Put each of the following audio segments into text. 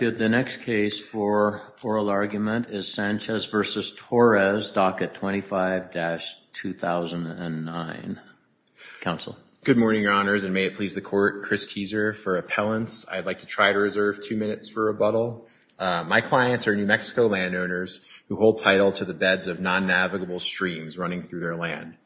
docket 25-2009. Council good morning your honors and may it please the court. Chris Keiser for appellants. I'd like to try to reserve two minutes for rebuttal. My clients are New Mexico landowners who hold title to the beds of non navigable streams running through their land.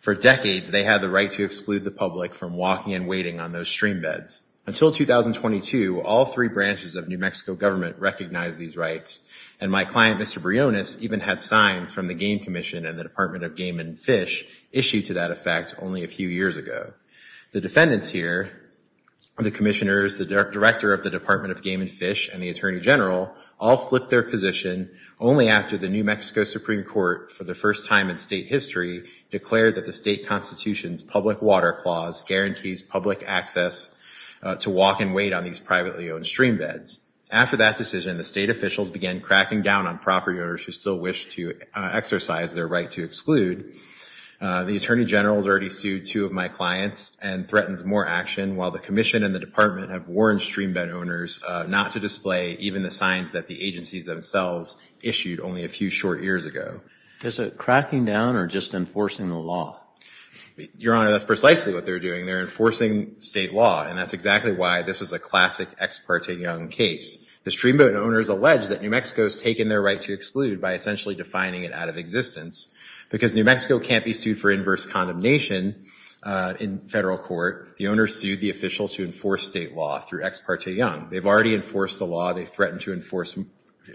For decades, they had the right to exclude the public from walking and waiting on those stream beds. Until 2022, all three branches of New Mexico landowners had the right to do so. I'm going to call on Chris Keiser to speak on this issue. My client, Mr. Briones, even had signs from the Game Commission and the Department of Game and Fish issued to that effect only a few years ago. The defendants here, the commissioners, the director of the Department of Game and Fish, and the Attorney General all flipped their position only after the New Mexico Supreme Court for the first time in state history declared that the state constitution's public water clause guarantees public access to walk and wait on these privately owned stream beds. After that decision, the state officials began cracking down on property owners who still wish to exercise their right to exclude. The Attorney General has already sued two of my clients and threatens more action while the commission and the department have warned stream bed owners not to display even the signs that the agencies themselves issued only a few short years ago. Is it cracking down or just enforcing the law? Your Honor, that's precisely what they're doing. They're enforcing state law. And that's exactly why this is a classic Ex Parte Young case. The stream bed owners allege that New Mexico has taken their right to exclude by essentially defining it out of existence. Because New Mexico can't be sued for inverse condemnation in federal court, the owners sued the officials who enforce state law through Ex Parte Young. They've already enforced the law. They threaten to enforce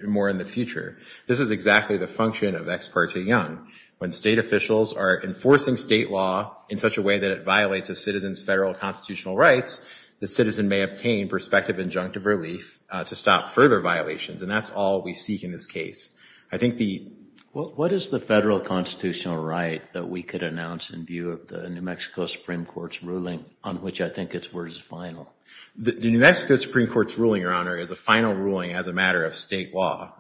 more in the future. This is exactly the function of Ex Parte Young. When state officials are enforcing state law in such a way that it violates a citizen's federal constitutional rights, the citizen may obtain prospective injunctive relief to stop further violations. And that's all we seek in this case. I think the... What is the federal constitutional right that we could announce in view of the New Mexico Supreme Court's ruling on which I think it's worth a final? The New Mexico Supreme Court's ruling, Your Honor, is a final ruling as a matter of state law.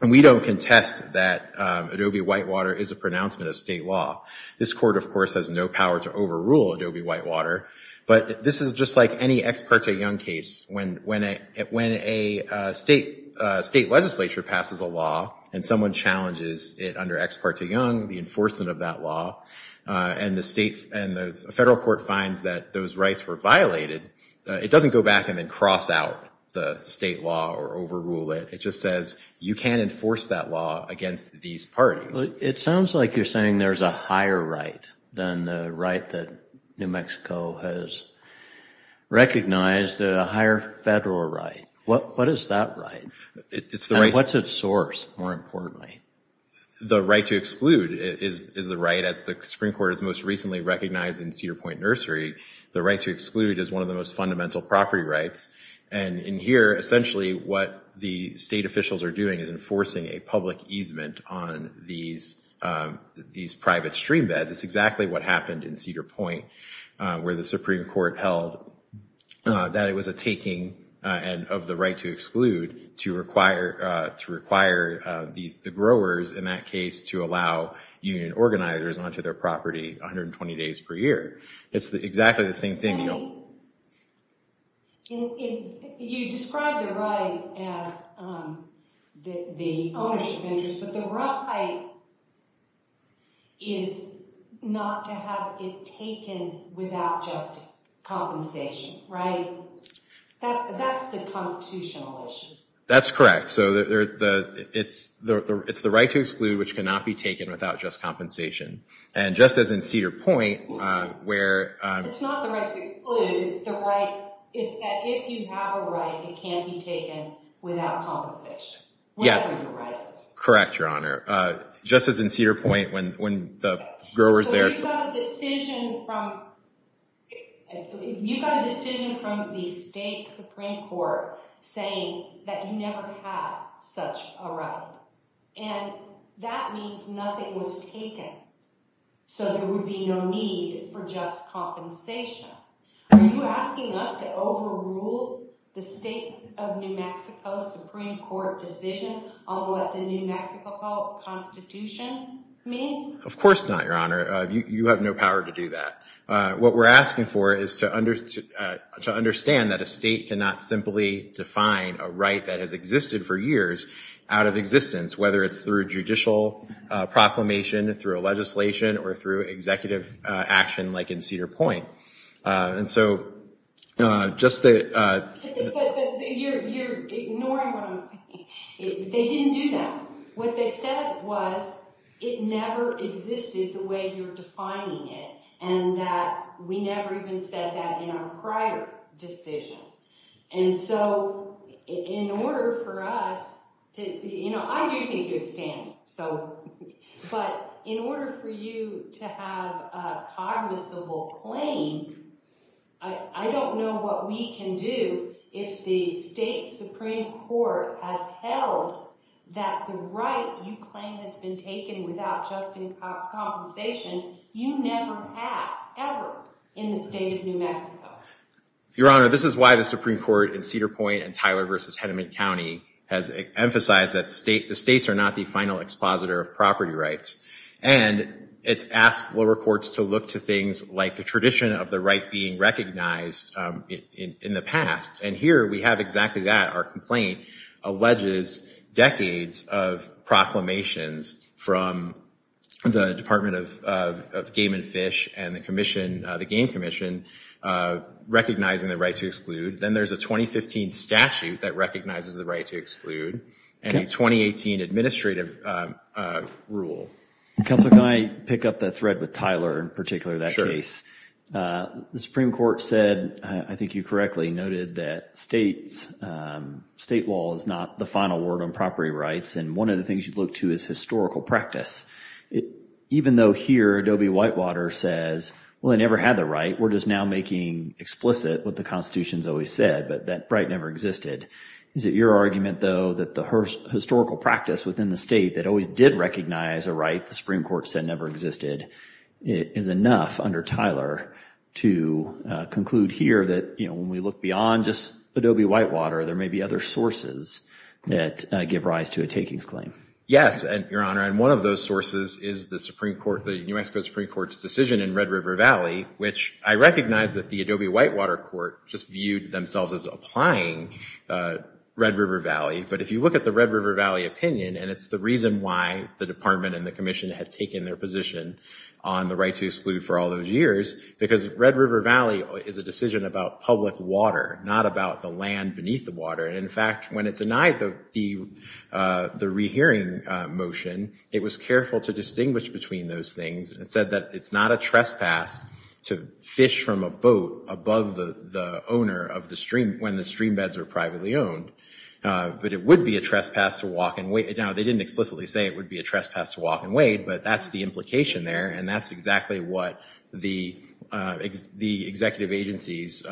And we don't contest that Adobe Whitewater is a pronouncement of state law. This court, of course, has no power to overrule Adobe Whitewater. But this is just like any Ex Parte Young case. When a state legislature passes a law and someone challenges it under Ex Parte Young, the enforcement of that law, and the federal court finds that those rights were violated, it doesn't go back and then cross out the state law or overrule it. It just says you can't enforce that law against these parties. It sounds like you're saying there's a higher right than the right that New Mexico has recognized, a higher federal right. What is that right? And what's its source, more importantly? The right to exclude is the right, as the Supreme Court has most recently recognized in Cedar Point Nursery. The right to exclude is one of the most fundamental property rights. And in here, essentially what the state officials are doing is enforcing a public easement on these private stream beds. It's exactly what happened in Cedar Point, where the Supreme Court held that it was a taking of the right to exclude to require the growers, in that case, to allow union organizers onto their property 120 days per year. It's exactly the same thing. You described the right as the ownership interest, but the right is not to have it taken without just compensation, right? That's the constitutional issue. That's correct. So it's the right to exclude, which cannot be taken without just compensation. And just as in Cedar Point, where— It's not the right to exclude. It's that if you have a right, it can't be taken without compensation, whatever your right is. Correct, Your Honor. Just as in Cedar Point, when the growers there— You got a decision from the state Supreme Court saying that you never had such a right. And that means nothing was taken, so there would be no need for just compensation. Are you asking us to overrule the state of New Mexico Supreme Court decision on what the New Mexico Constitution means? Of course not, Your Honor. You have no power to do that. What we're asking for is to understand that a state cannot simply define a right that has existed for years out of existence, whether it's through a judicial proclamation, through a legislation, or through executive action like in Cedar Point. And so, just the— You're ignoring what I'm saying. They didn't do that. What they said was it never existed the way you're defining it, and that we never even said that in our prior decision. I do think you have standing. But in order for you to have a cognizable claim, I don't know what we can do if the state Supreme Court has held that the right you claim has been taken without just compensation. You never have, ever, in the state of New Mexico. Your Honor, this is why the Supreme Court in Cedar Point and Tyler v. Henneman County has emphasized that the states are not the final expositor of property rights. And it's asked lower courts to look to things like the tradition of the right being recognized in the past. And here we have exactly that. Our complaint alleges decades of proclamations from the Department of Game and Fish and the Commission, the Game Commission, recognizing the right to exclude. Then there's a 2015 statute that recognizes the right to exclude and a 2018 administrative rule. Counsel, can I pick up the thread with Tyler in particular, that case? Sure. The Supreme Court said, I think you correctly noted, that state law is not the final word on property rights. And one of the things you look to is historical practice. Even though here, Adobe Whitewater says, well, they never had the right, we're just now making explicit what the Constitution's always said, but that right never existed. Is it your argument, though, that the historical practice within the state that always did recognize a right the Supreme Court said never existed is enough under Tyler to conclude here that, you know, when we look beyond just Adobe Whitewater, there may be other sources that give rise to a takings claim? Yes, Your Honor. And one of those sources is the Supreme Court, the New Mexico Supreme Court's decision in Red River Valley, which I recognize that the Adobe Whitewater court just viewed themselves as applying Red River Valley. But if you look at the Red River Valley opinion, and it's the reason why the department and the commission had taken their position on the right to exclude for all those years, because Red River Valley is a decision about public water, not about the land beneath the water. And in fact, when it denied the rehearing motion, it was careful to distinguish between those things and said that it's not a trespass to fish from a boat above the owner of the stream when the stream beds are privately owned. But it would be a trespass to walk and wait. Now, they didn't explicitly say it would be a trespass to walk and wait, but that's the implication there. And that's exactly what the executive agencies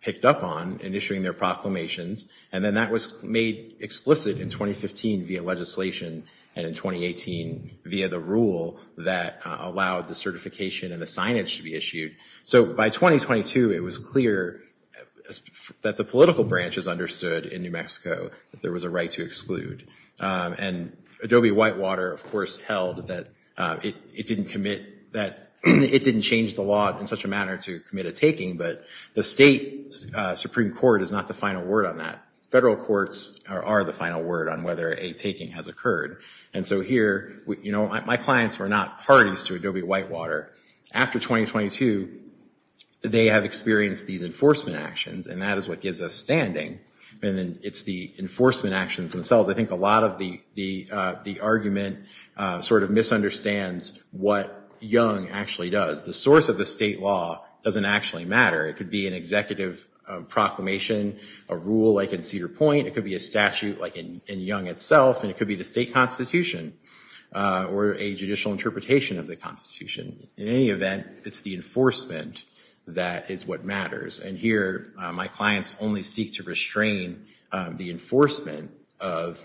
picked up on in issuing their proclamations. And then that was made explicit in 2015 via legislation and in 2018 via the rule that allowed the certification and the signage to be issued. So by 2022, it was clear that the political branches understood in New Mexico that there was a right to exclude. And Adobe Whitewater, of course, held that it didn't commit that, it didn't change the law in such a manner to commit a taking, but the state Supreme Court is not the final word on that. Federal courts are the final word on whether a taking has occurred. And so here, you know, my clients were not parties to Adobe Whitewater. After 2022, they have experienced these enforcement actions, and that is what gives us standing. And then it's the enforcement actions themselves. I think a lot of the argument sort of misunderstands what Young actually does. The source of the state law doesn't actually matter. It could be an executive proclamation, a rule like in Cedar Point, it could be a statute like in Young itself, and it could be the state constitution or a judicial interpretation of the constitution. In any event, it's the enforcement that is what matters. And here, my clients only seek to restrain the enforcement of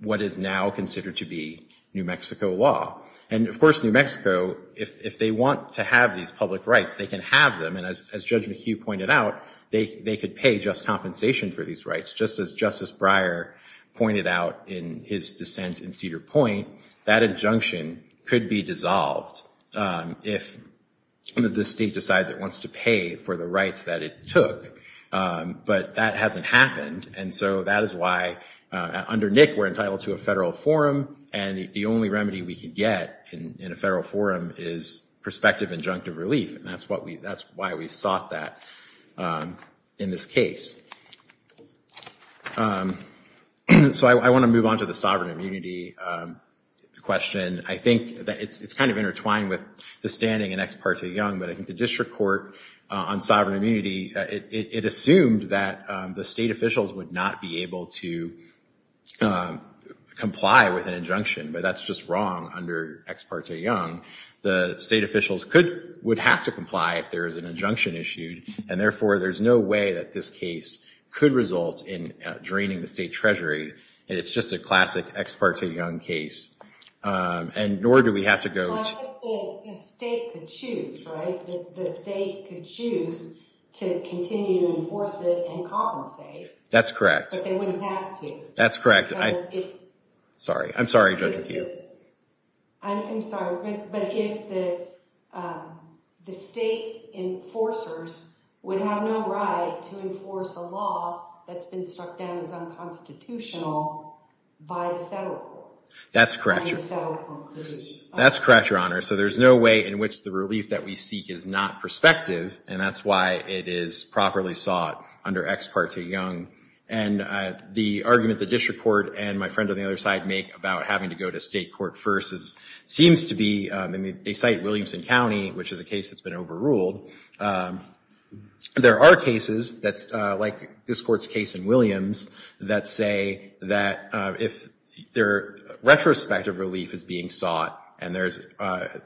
what is now considered to be New Mexico law. And, of course, New Mexico, if they want to have these public rights, they can have them. And as Judge McHugh pointed out, they could pay just compensation for these rights. Just as Justice Breyer pointed out in his dissent in Cedar Point, that injunction could be dissolved if the state decides it wants to pay for the rights that it took. But that hasn't happened, and so that is why, under Nick, we're entitled to a federal forum, and the only remedy we could get in a federal forum is prospective injunctive relief, and that's why we sought that in this case. So I want to move on to the sovereign immunity question. I think that it's kind of intertwined with the standing in Ex Parte Young, but I think the district court on sovereign immunity, it assumed that the state officials would not be able to comply with an injunction, but that's just wrong under Ex Parte Young. The state officials would have to comply if there is an injunction issued, and therefore, there's no way that this case could result in draining the state treasury, and it's just a classic Ex Parte Young case, and nor do we have to go to— Well, I'm just saying the state could choose, right? The state could choose to continue to enforce it and compensate. That's correct. But they wouldn't have to. That's correct. Sorry. I'm sorry, Judge McHugh. I'm sorry, but if the state enforcers would have no right to enforce a law that's been struck down as unconstitutional by the federal court? That's correct, Your Honor. That's correct, Your Honor. So there's no way in which the relief that we seek is not prospective, and that's why it is properly sought under Ex Parte Young. And the argument the district court and my friend on the other side make about having to go to state court first seems to be—I mean, they cite Williamson County, which is a case that's been overruled. There are cases that's like this court's case in Williams that say that if retrospective relief is being sought and the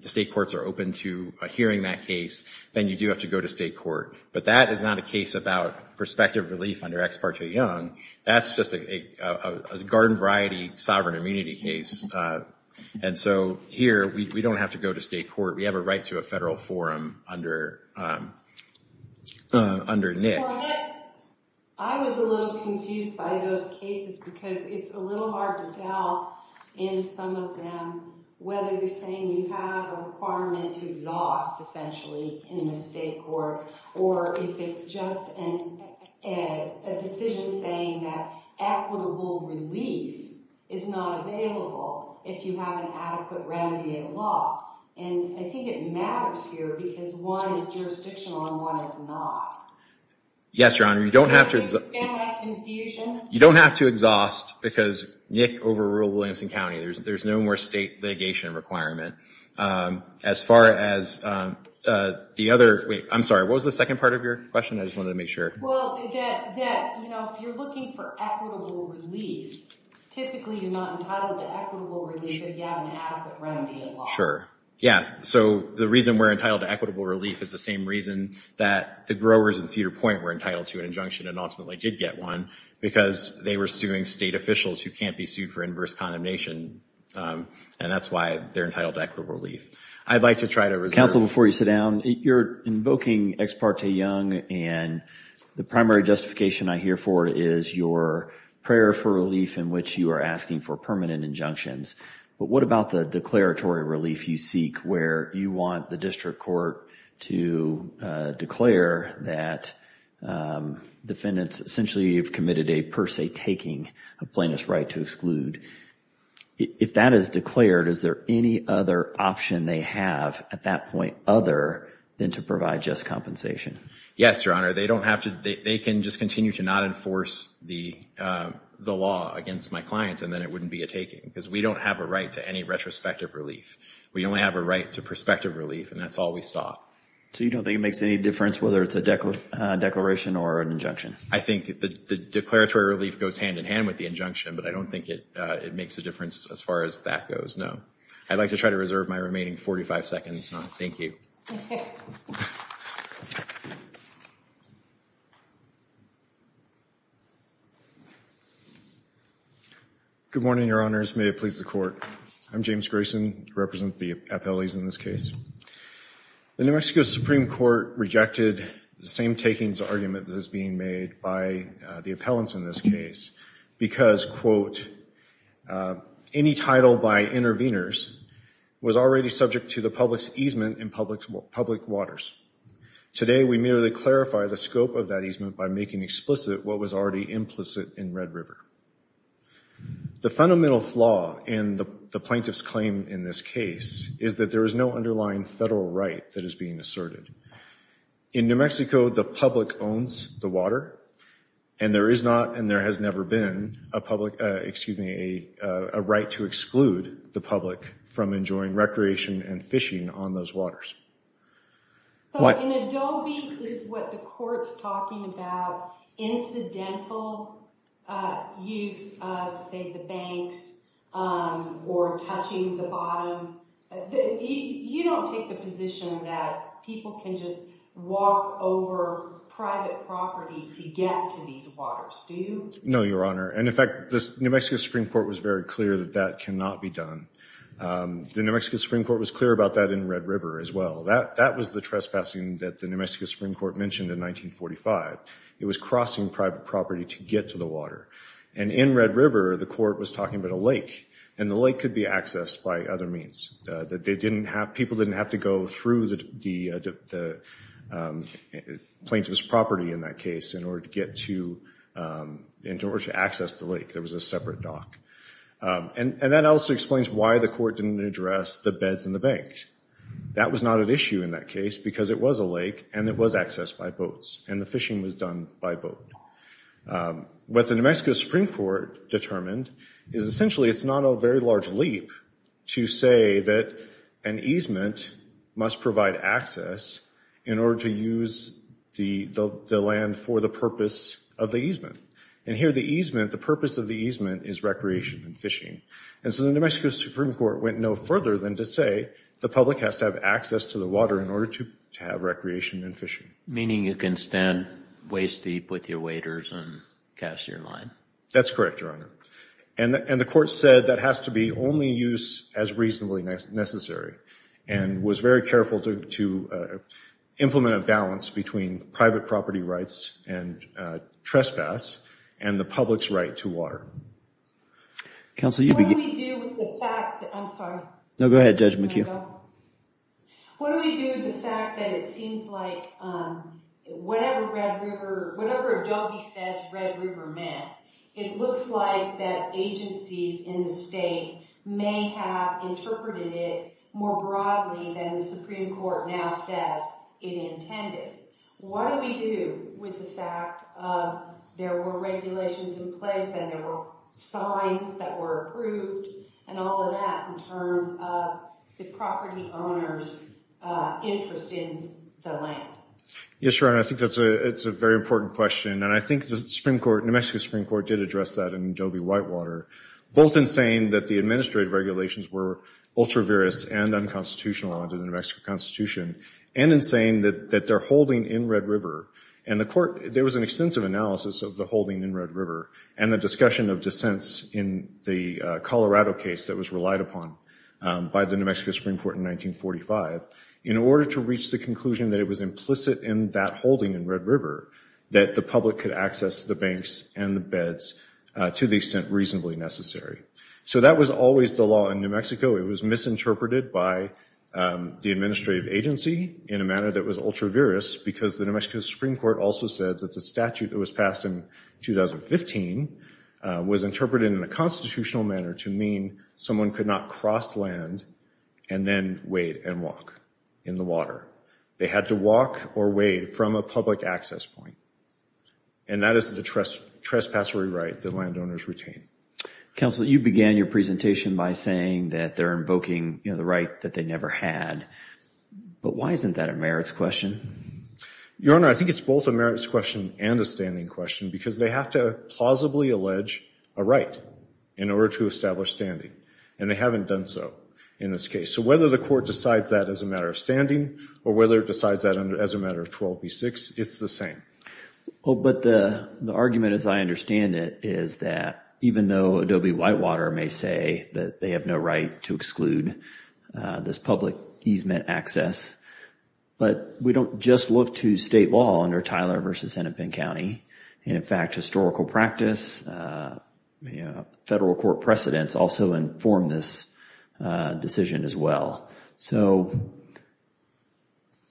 state courts are open to hearing that case, then you do have to go to state court. But that is not a case about prospective relief under Ex Parte Young. That's just a garden variety sovereign immunity case. And so here, we don't have to go to state court. We have a right to a federal forum under Nick. I was a little confused by those cases because it's a little hard to tell in some of them whether you're saying you have a requirement to exhaust, essentially, in the state court or if it's just a decision saying that equitable relief is not available if you have an adequate remedy in law. And I think it matters here because one is jurisdictional and one is not. Yes, Your Honor. You don't have to— Am I confused? You don't have to exhaust because Nick overruled Williamson County. There's no more state litigation requirement. As far as the other—I'm sorry, what was the second part of your question? I just wanted to make sure. Well, that, you know, if you're looking for equitable relief, typically you're not entitled to equitable relief if you have an adequate remedy in law. Sure. Yeah, so the reason we're entitled to equitable relief is the same reason that the growers in Cedar Point were entitled to an injunction and ultimately did get one because they were suing state officials who can't be sued for inverse condemnation. And that's why they're entitled to equitable relief. I'd like to try to reserve— Counsel, before you sit down, you're invoking Ex parte Young, and the primary justification I hear for it is your prayer for relief in which you are asking for permanent injunctions. But what about the declaratory relief you seek where you want the district court to declare that defendants essentially have committed a per se taking of plaintiff's right to exclude? If that is declared, is there any other option they have at that point other than to provide just compensation? Yes, Your Honor. They can just continue to not enforce the law against my clients, and then it wouldn't be a taking because we don't have a right to any retrospective relief. We only have a right to prospective relief, and that's all we saw. So you don't think it makes any difference whether it's a declaration or an injunction? I think the declaratory relief goes hand in hand with the injunction, but I don't think it makes a difference as far as that goes, no. I'd like to try to reserve my remaining 45 seconds. Thank you. Good morning, Your Honors. May it please the Court. I'm James Grayson. I represent the appellees in this case. The New Mexico Supreme Court rejected the same takings argument that is being made by the appellants in this case because, quote, any title by intervenors was already subject to the public's easement in public waters. Today, we merely clarify the scope of that easement by making explicit what was already implicit in Red River. The fundamental flaw in the plaintiff's claim in this case is that there is no underlying federal right that is being asserted. In New Mexico, the public owns the water, and there is not and there has never been a right to exclude the public from enjoying recreation and fishing on those waters. In Adobe, is what the Court's talking about incidental use of, say, the banks or touching the bottom? You don't take the position that people can just walk over private property to get to these waters, do you? No, Your Honor. And, in fact, the New Mexico Supreme Court was very clear that that cannot be done. The New Mexico Supreme Court was clear about that in Red River as well. That was the trespassing that the New Mexico Supreme Court mentioned in 1945. It was crossing private property to get to the water. And in Red River, the Court was talking about a lake, and the lake could be accessed by other means. People didn't have to go through the plaintiff's property in that case in order to access the lake. There was a separate dock. And that also explains why the Court didn't address the beds in the banks. That was not an issue in that case because it was a lake and it was accessed by boats, and the fishing was done by boat. What the New Mexico Supreme Court determined is essentially it's not a very large leap to say that an easement must provide access in order to use the land for the purpose of the easement. And here the easement, the purpose of the easement, is recreation and fishing. And so the New Mexico Supreme Court went no further than to say the public has to have access to the water in order to have recreation and fishing. Meaning you can stand waist-deep with your waders and cast your line. That's correct, Your Honor. And the Court said that has to be only use as reasonably necessary, and was very careful to implement a balance between private property rights and trespass and the public's right to water. Counsel, you begin. What do we do with the fact that... I'm sorry. No, go ahead, Judge McHugh. What do we do with the fact that it seems like whatever Adobe says Red River meant, it looks like that agencies in the state may have interpreted it more broadly than the Supreme Court now says it intended. What do we do with the fact that there were regulations in place and there were fines that were approved and all of that in terms of the property owner's interest in the land? Yes, Your Honor, I think that's a very important question. And I think the New Mexico Supreme Court did address that in Adobe-Whitewater, both in saying that the administrative regulations were ultra-virus and unconstitutional under the New Mexico Constitution, and in saying that they're holding in Red River. And the Court, there was an extensive analysis of the holding in Red River and the discussion of dissents in the Colorado case that was relied upon by the New Mexico Supreme Court in 1945 in order to reach the conclusion that it was implicit in that holding in Red River that the public could access the banks and the beds to the extent reasonably necessary. So that was always the law in New Mexico. It was misinterpreted by the administrative agency in a manner that was ultra-virus because the New Mexico Supreme Court also said that the statute that was passed in 2015 was interpreted in a constitutional manner to mean someone could not cross land and then wade and walk in the water. They had to walk or wade from a public access point. And that is the trespassory right that landowners retain. Counsel, you began your presentation by saying that they're invoking the right that they never had. But why isn't that a merits question? Your Honor, I think it's both a merits question and a standing question because they have to plausibly allege a right in order to establish standing, and they haven't done so in this case. So whether the Court decides that as a matter of standing or whether it decides that as a matter of 12b-6, it's the same. Well, but the argument as I understand it is that even though Adobe-Whitewater may say that they have no right to exclude this public easement access, but we don't just look to state law under Tyler v. Hennepin County. And in fact, historical practice, federal court precedents also inform this decision as well. So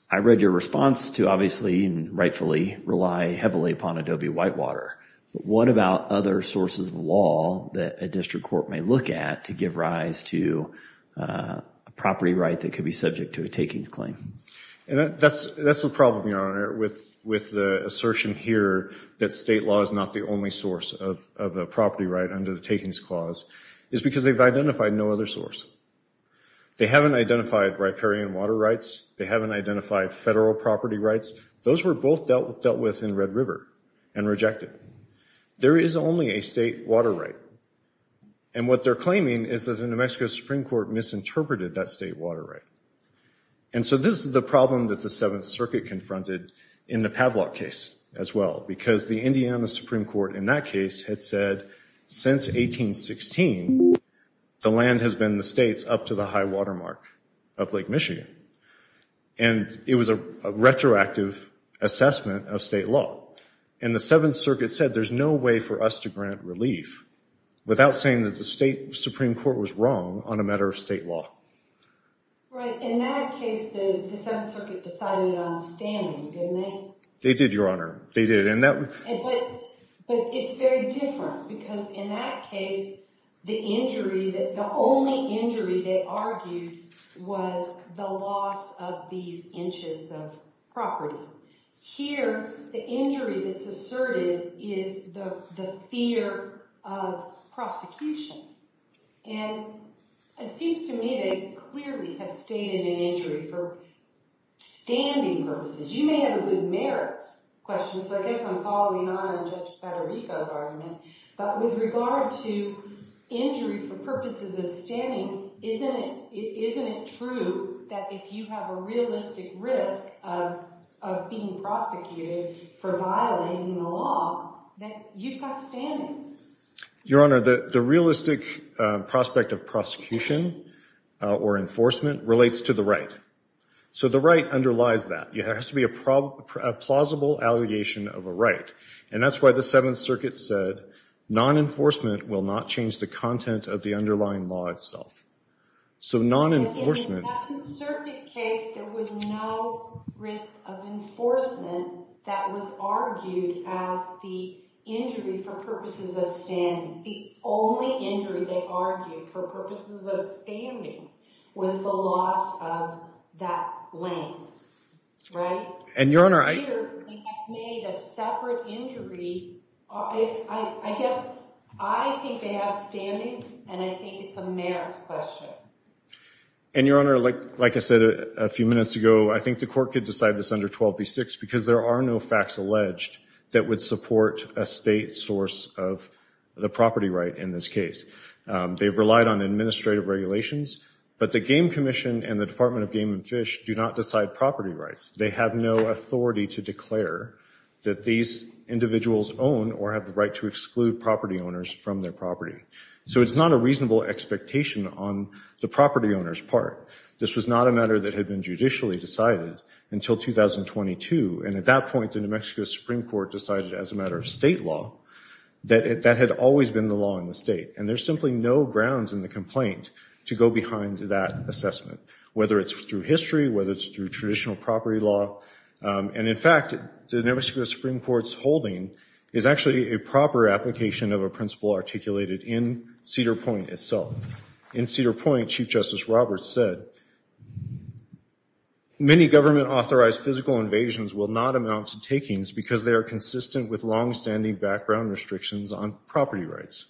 I read your response to obviously and rightfully rely heavily upon Adobe-Whitewater. But what about other sources of law that a district court may look at to give rise to a property right that could be subject to a takings claim? That's the problem, Your Honor, with the assertion here that state law is not the only source of a property right under the takings clause is because they've identified no other source. They haven't identified riparian water rights. They haven't identified federal property rights. Those were both dealt with in Red River and rejected. There is only a state water right. And what they're claiming is that the New Mexico Supreme Court misinterpreted that state water right. And so this is the problem that the Seventh Circuit confronted in the Pavlok case as well, because the Indiana Supreme Court in that case had said since 1816, the land has been the state's up to the high water mark of Lake Michigan. And it was a retroactive assessment of state law. And the Seventh Circuit said there's no way for us to grant relief without saying that the state Supreme Court was wrong on a matter of state law. Right. In that case, the Seventh Circuit decided on standing, didn't they? They did, Your Honor. They did. But it's very different, because in that case, the only injury they argued was the loss of these inches of property. Here, the injury that's asserted is the fear of prosecution. And it seems to me they clearly have stated an injury for standing purposes. You may have a good merits question, so I guess I'm following on Judge Federico's argument. But with regard to injury for purposes of standing, isn't it true that if you have a realistic risk of being prosecuted for violating the law, that you've got standing? Your Honor, the realistic prospect of prosecution or enforcement relates to the right. So the right underlies that. There has to be a plausible allegation of a right. And that's why the Seventh Circuit said non-enforcement will not change the content of the underlying law itself. So non-enforcement... In the Seventh Circuit case, there was no risk of enforcement that was argued as the injury for purposes of standing. The only injury they argued for purposes of standing was the loss of that length. And Your Honor, I... Here, it's made a separate injury. I guess I think they have standing, and I think it's a merits question. And Your Honor, like I said a few minutes ago, I think the court could decide this under 12b-6, because there are no facts alleged that would support a state source of the property right in this case. They've relied on administrative regulations. But the Game Commission and the Department of Game and Fish do not decide property rights. They have no authority to declare that these individuals own or have the right to exclude property owners from their property. So it's not a reasonable expectation on the property owner's part. This was not a matter that had been judicially decided until 2022. And at that point, the New Mexico Supreme Court decided as a matter of state law that that had always been the law in the state. And there's simply no grounds in the complaint to go behind that assessment, whether it's through history, whether it's through traditional property law. And in fact, the New Mexico Supreme Court's holding is actually a proper application of a principle articulated in Cedar Point itself. In Cedar Point, Chief Justice Roberts said, many government-authorized physical invasions will not amount to takings because they are consistent with longstanding background restrictions on property rights.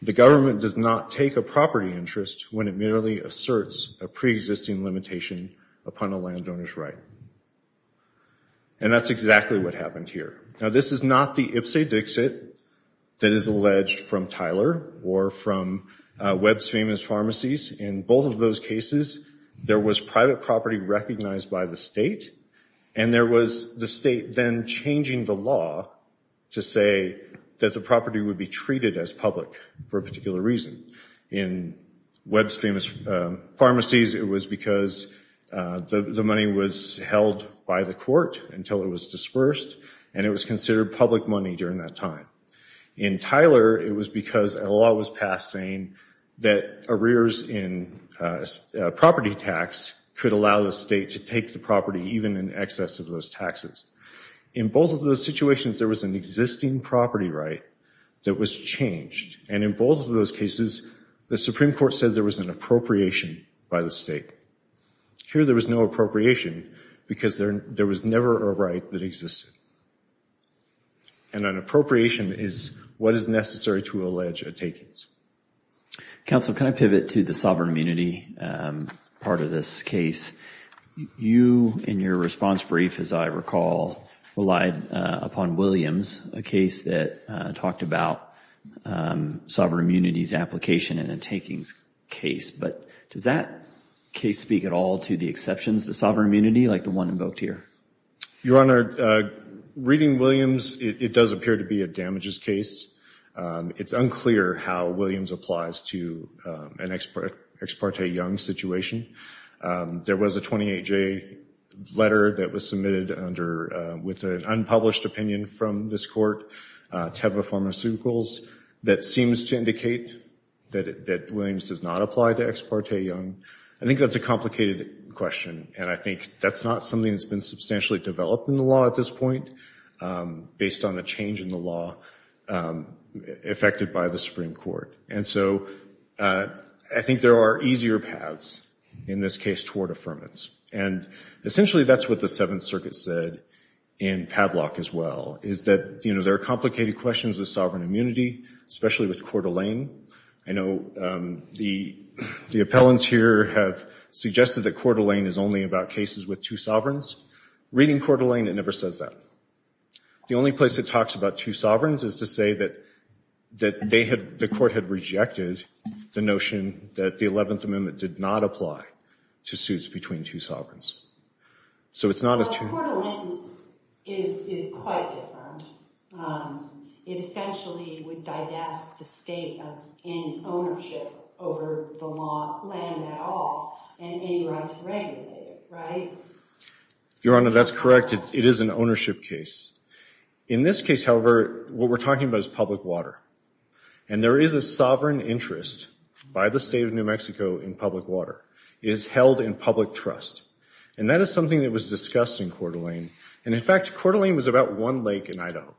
The government does not take a property interest when it merely asserts a preexisting limitation upon a landowner's right. And that's exactly what happened here. Now, this is not the Ipse Dixit that is alleged from Tyler or from Webb's Famous Pharmacies. In both of those cases, there was private property recognized by the state, and there was the state then changing the law to say that the property would be treated as public for a particular reason. In Webb's Famous Pharmacies, it was because the money was held by the court until it was dispersed, and it was considered public money during that time. In Tyler, it was because a law was passed saying that arrears in property tax could allow the state to take the property, even in excess of those taxes. In both of those situations, there was an existing property right that was changed. And in both of those cases, the Supreme Court said there was an appropriation by the state. Here, there was no appropriation because there was never a right that existed. And an appropriation is what is necessary to allege a takings. Counsel, can I pivot to the sovereign immunity part of this case? You, in your response brief, as I recall, relied upon Williams, a case that talked about sovereign immunity's application in a takings case. But does that case speak at all to the exceptions to sovereign immunity like the one invoked here? Your Honor, reading Williams, it does appear to be a damages case. It's unclear how Williams applies to an Ex parte Young situation. There was a 28-J letter that was submitted with an unpublished opinion from this court, Teva Pharmaceuticals, that seems to indicate that Williams does not apply to Ex parte Young. I think that's a complicated question. And I think that's not something that's been substantially developed in the law at this point, based on the change in the law affected by the Supreme Court. And so I think there are easier paths in this case toward affirmance. And essentially, that's what the Seventh Circuit said in Padlock as well, is that there are complicated questions with sovereign immunity, especially with Coeur d'Alene. I know the appellants here have suggested that Coeur d'Alene is only about cases with two sovereigns. Reading Coeur d'Alene, it never says that. The only place it talks about two sovereigns is to say that the court had rejected the notion that the 11th Amendment did not apply to suits between two sovereigns. But Coeur d'Alene is quite different. It essentially would divest the state of any ownership over the law, land at all, and any right to regulate it, right? Your Honor, that's correct. It is an ownership case. In this case, however, what we're talking about is public water. And there is a sovereign interest by the state of New Mexico in public water. It is held in public trust. And that is something that was discussed in Coeur d'Alene. And in fact, Coeur d'Alene was about one lake in Idaho.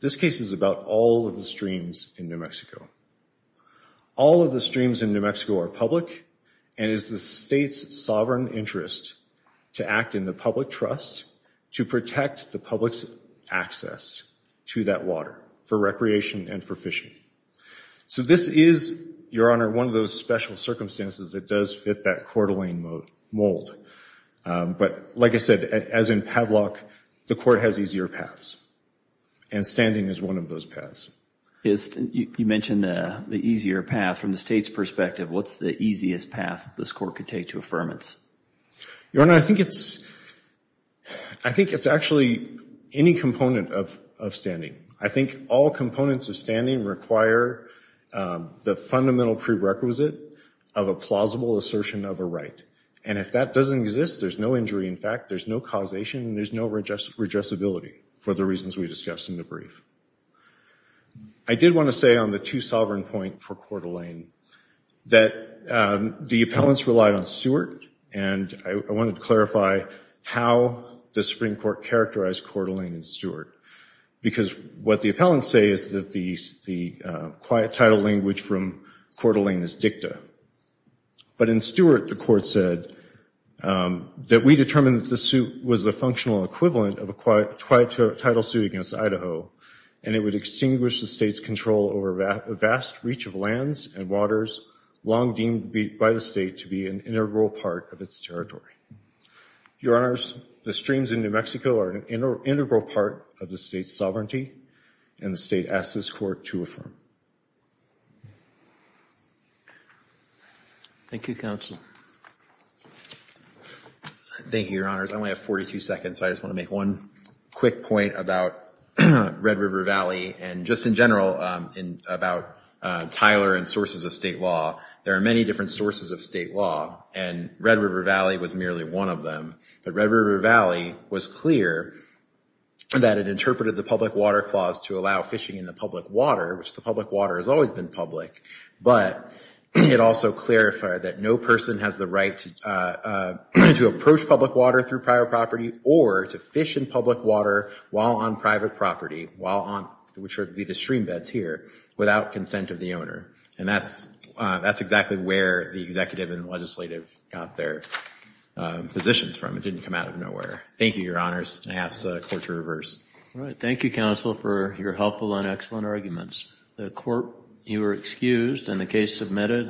This case is about all of the streams in New Mexico. All of the streams in New Mexico are public and it is the state's sovereign interest to act in the public trust to protect the public's access to that water for recreation and for fishing. So this is, Your Honor, one of those special circumstances that does fit that Coeur d'Alene mold. But like I said, as in Pavlov, the court has easier paths. And standing is one of those paths. You mentioned the easier path. From the state's perspective, what's the easiest path this court could take to affirmance? Your Honor, I think it's actually any component of standing. I think all components of standing require the fundamental prerequisite of a plausible assertion of a right. And if that doesn't exist, there's no injury in fact. There's no causation. There's no redressability for the reasons we discussed in the brief. I did want to say on the two sovereign point for Coeur d'Alene that the appellants relied on Stewart. And I wanted to clarify how the Supreme Court characterized Coeur d'Alene and Stewart. Because what the appellants say is that the quiet title language from Coeur d'Alene is dicta. But in Stewart, the court said that we determined that the suit was the functional equivalent of a quiet title suit against Idaho. And it would extinguish the state's control over a vast reach of lands and waters, long deemed by the state to be an integral part of its territory. Your Honors, the streams in New Mexico are an integral part of the state's sovereignty, and the state asks this court to affirm. Thank you, Counsel. Thank you, Your Honors. I only have 42 seconds, so I just want to make one quick point about Red River Valley and just in general about Tyler and sources of state law. There are many different sources of state law, and Red River Valley was merely one of them. But Red River Valley was clear that it interpreted the public water clause to allow fishing in the public water, which the public water has always been public. But it also clarified that no person has the right to approach public water through private property or to fish in public water while on private property, which would be the stream beds here, without consent of the owner. And that's exactly where the executive and legislative got their positions from. It didn't come out of nowhere. Thank you, Your Honors. I ask the court to reverse. Thank you, Counsel, for your helpful and excellent arguments. The court, you are excused, and the case submitted.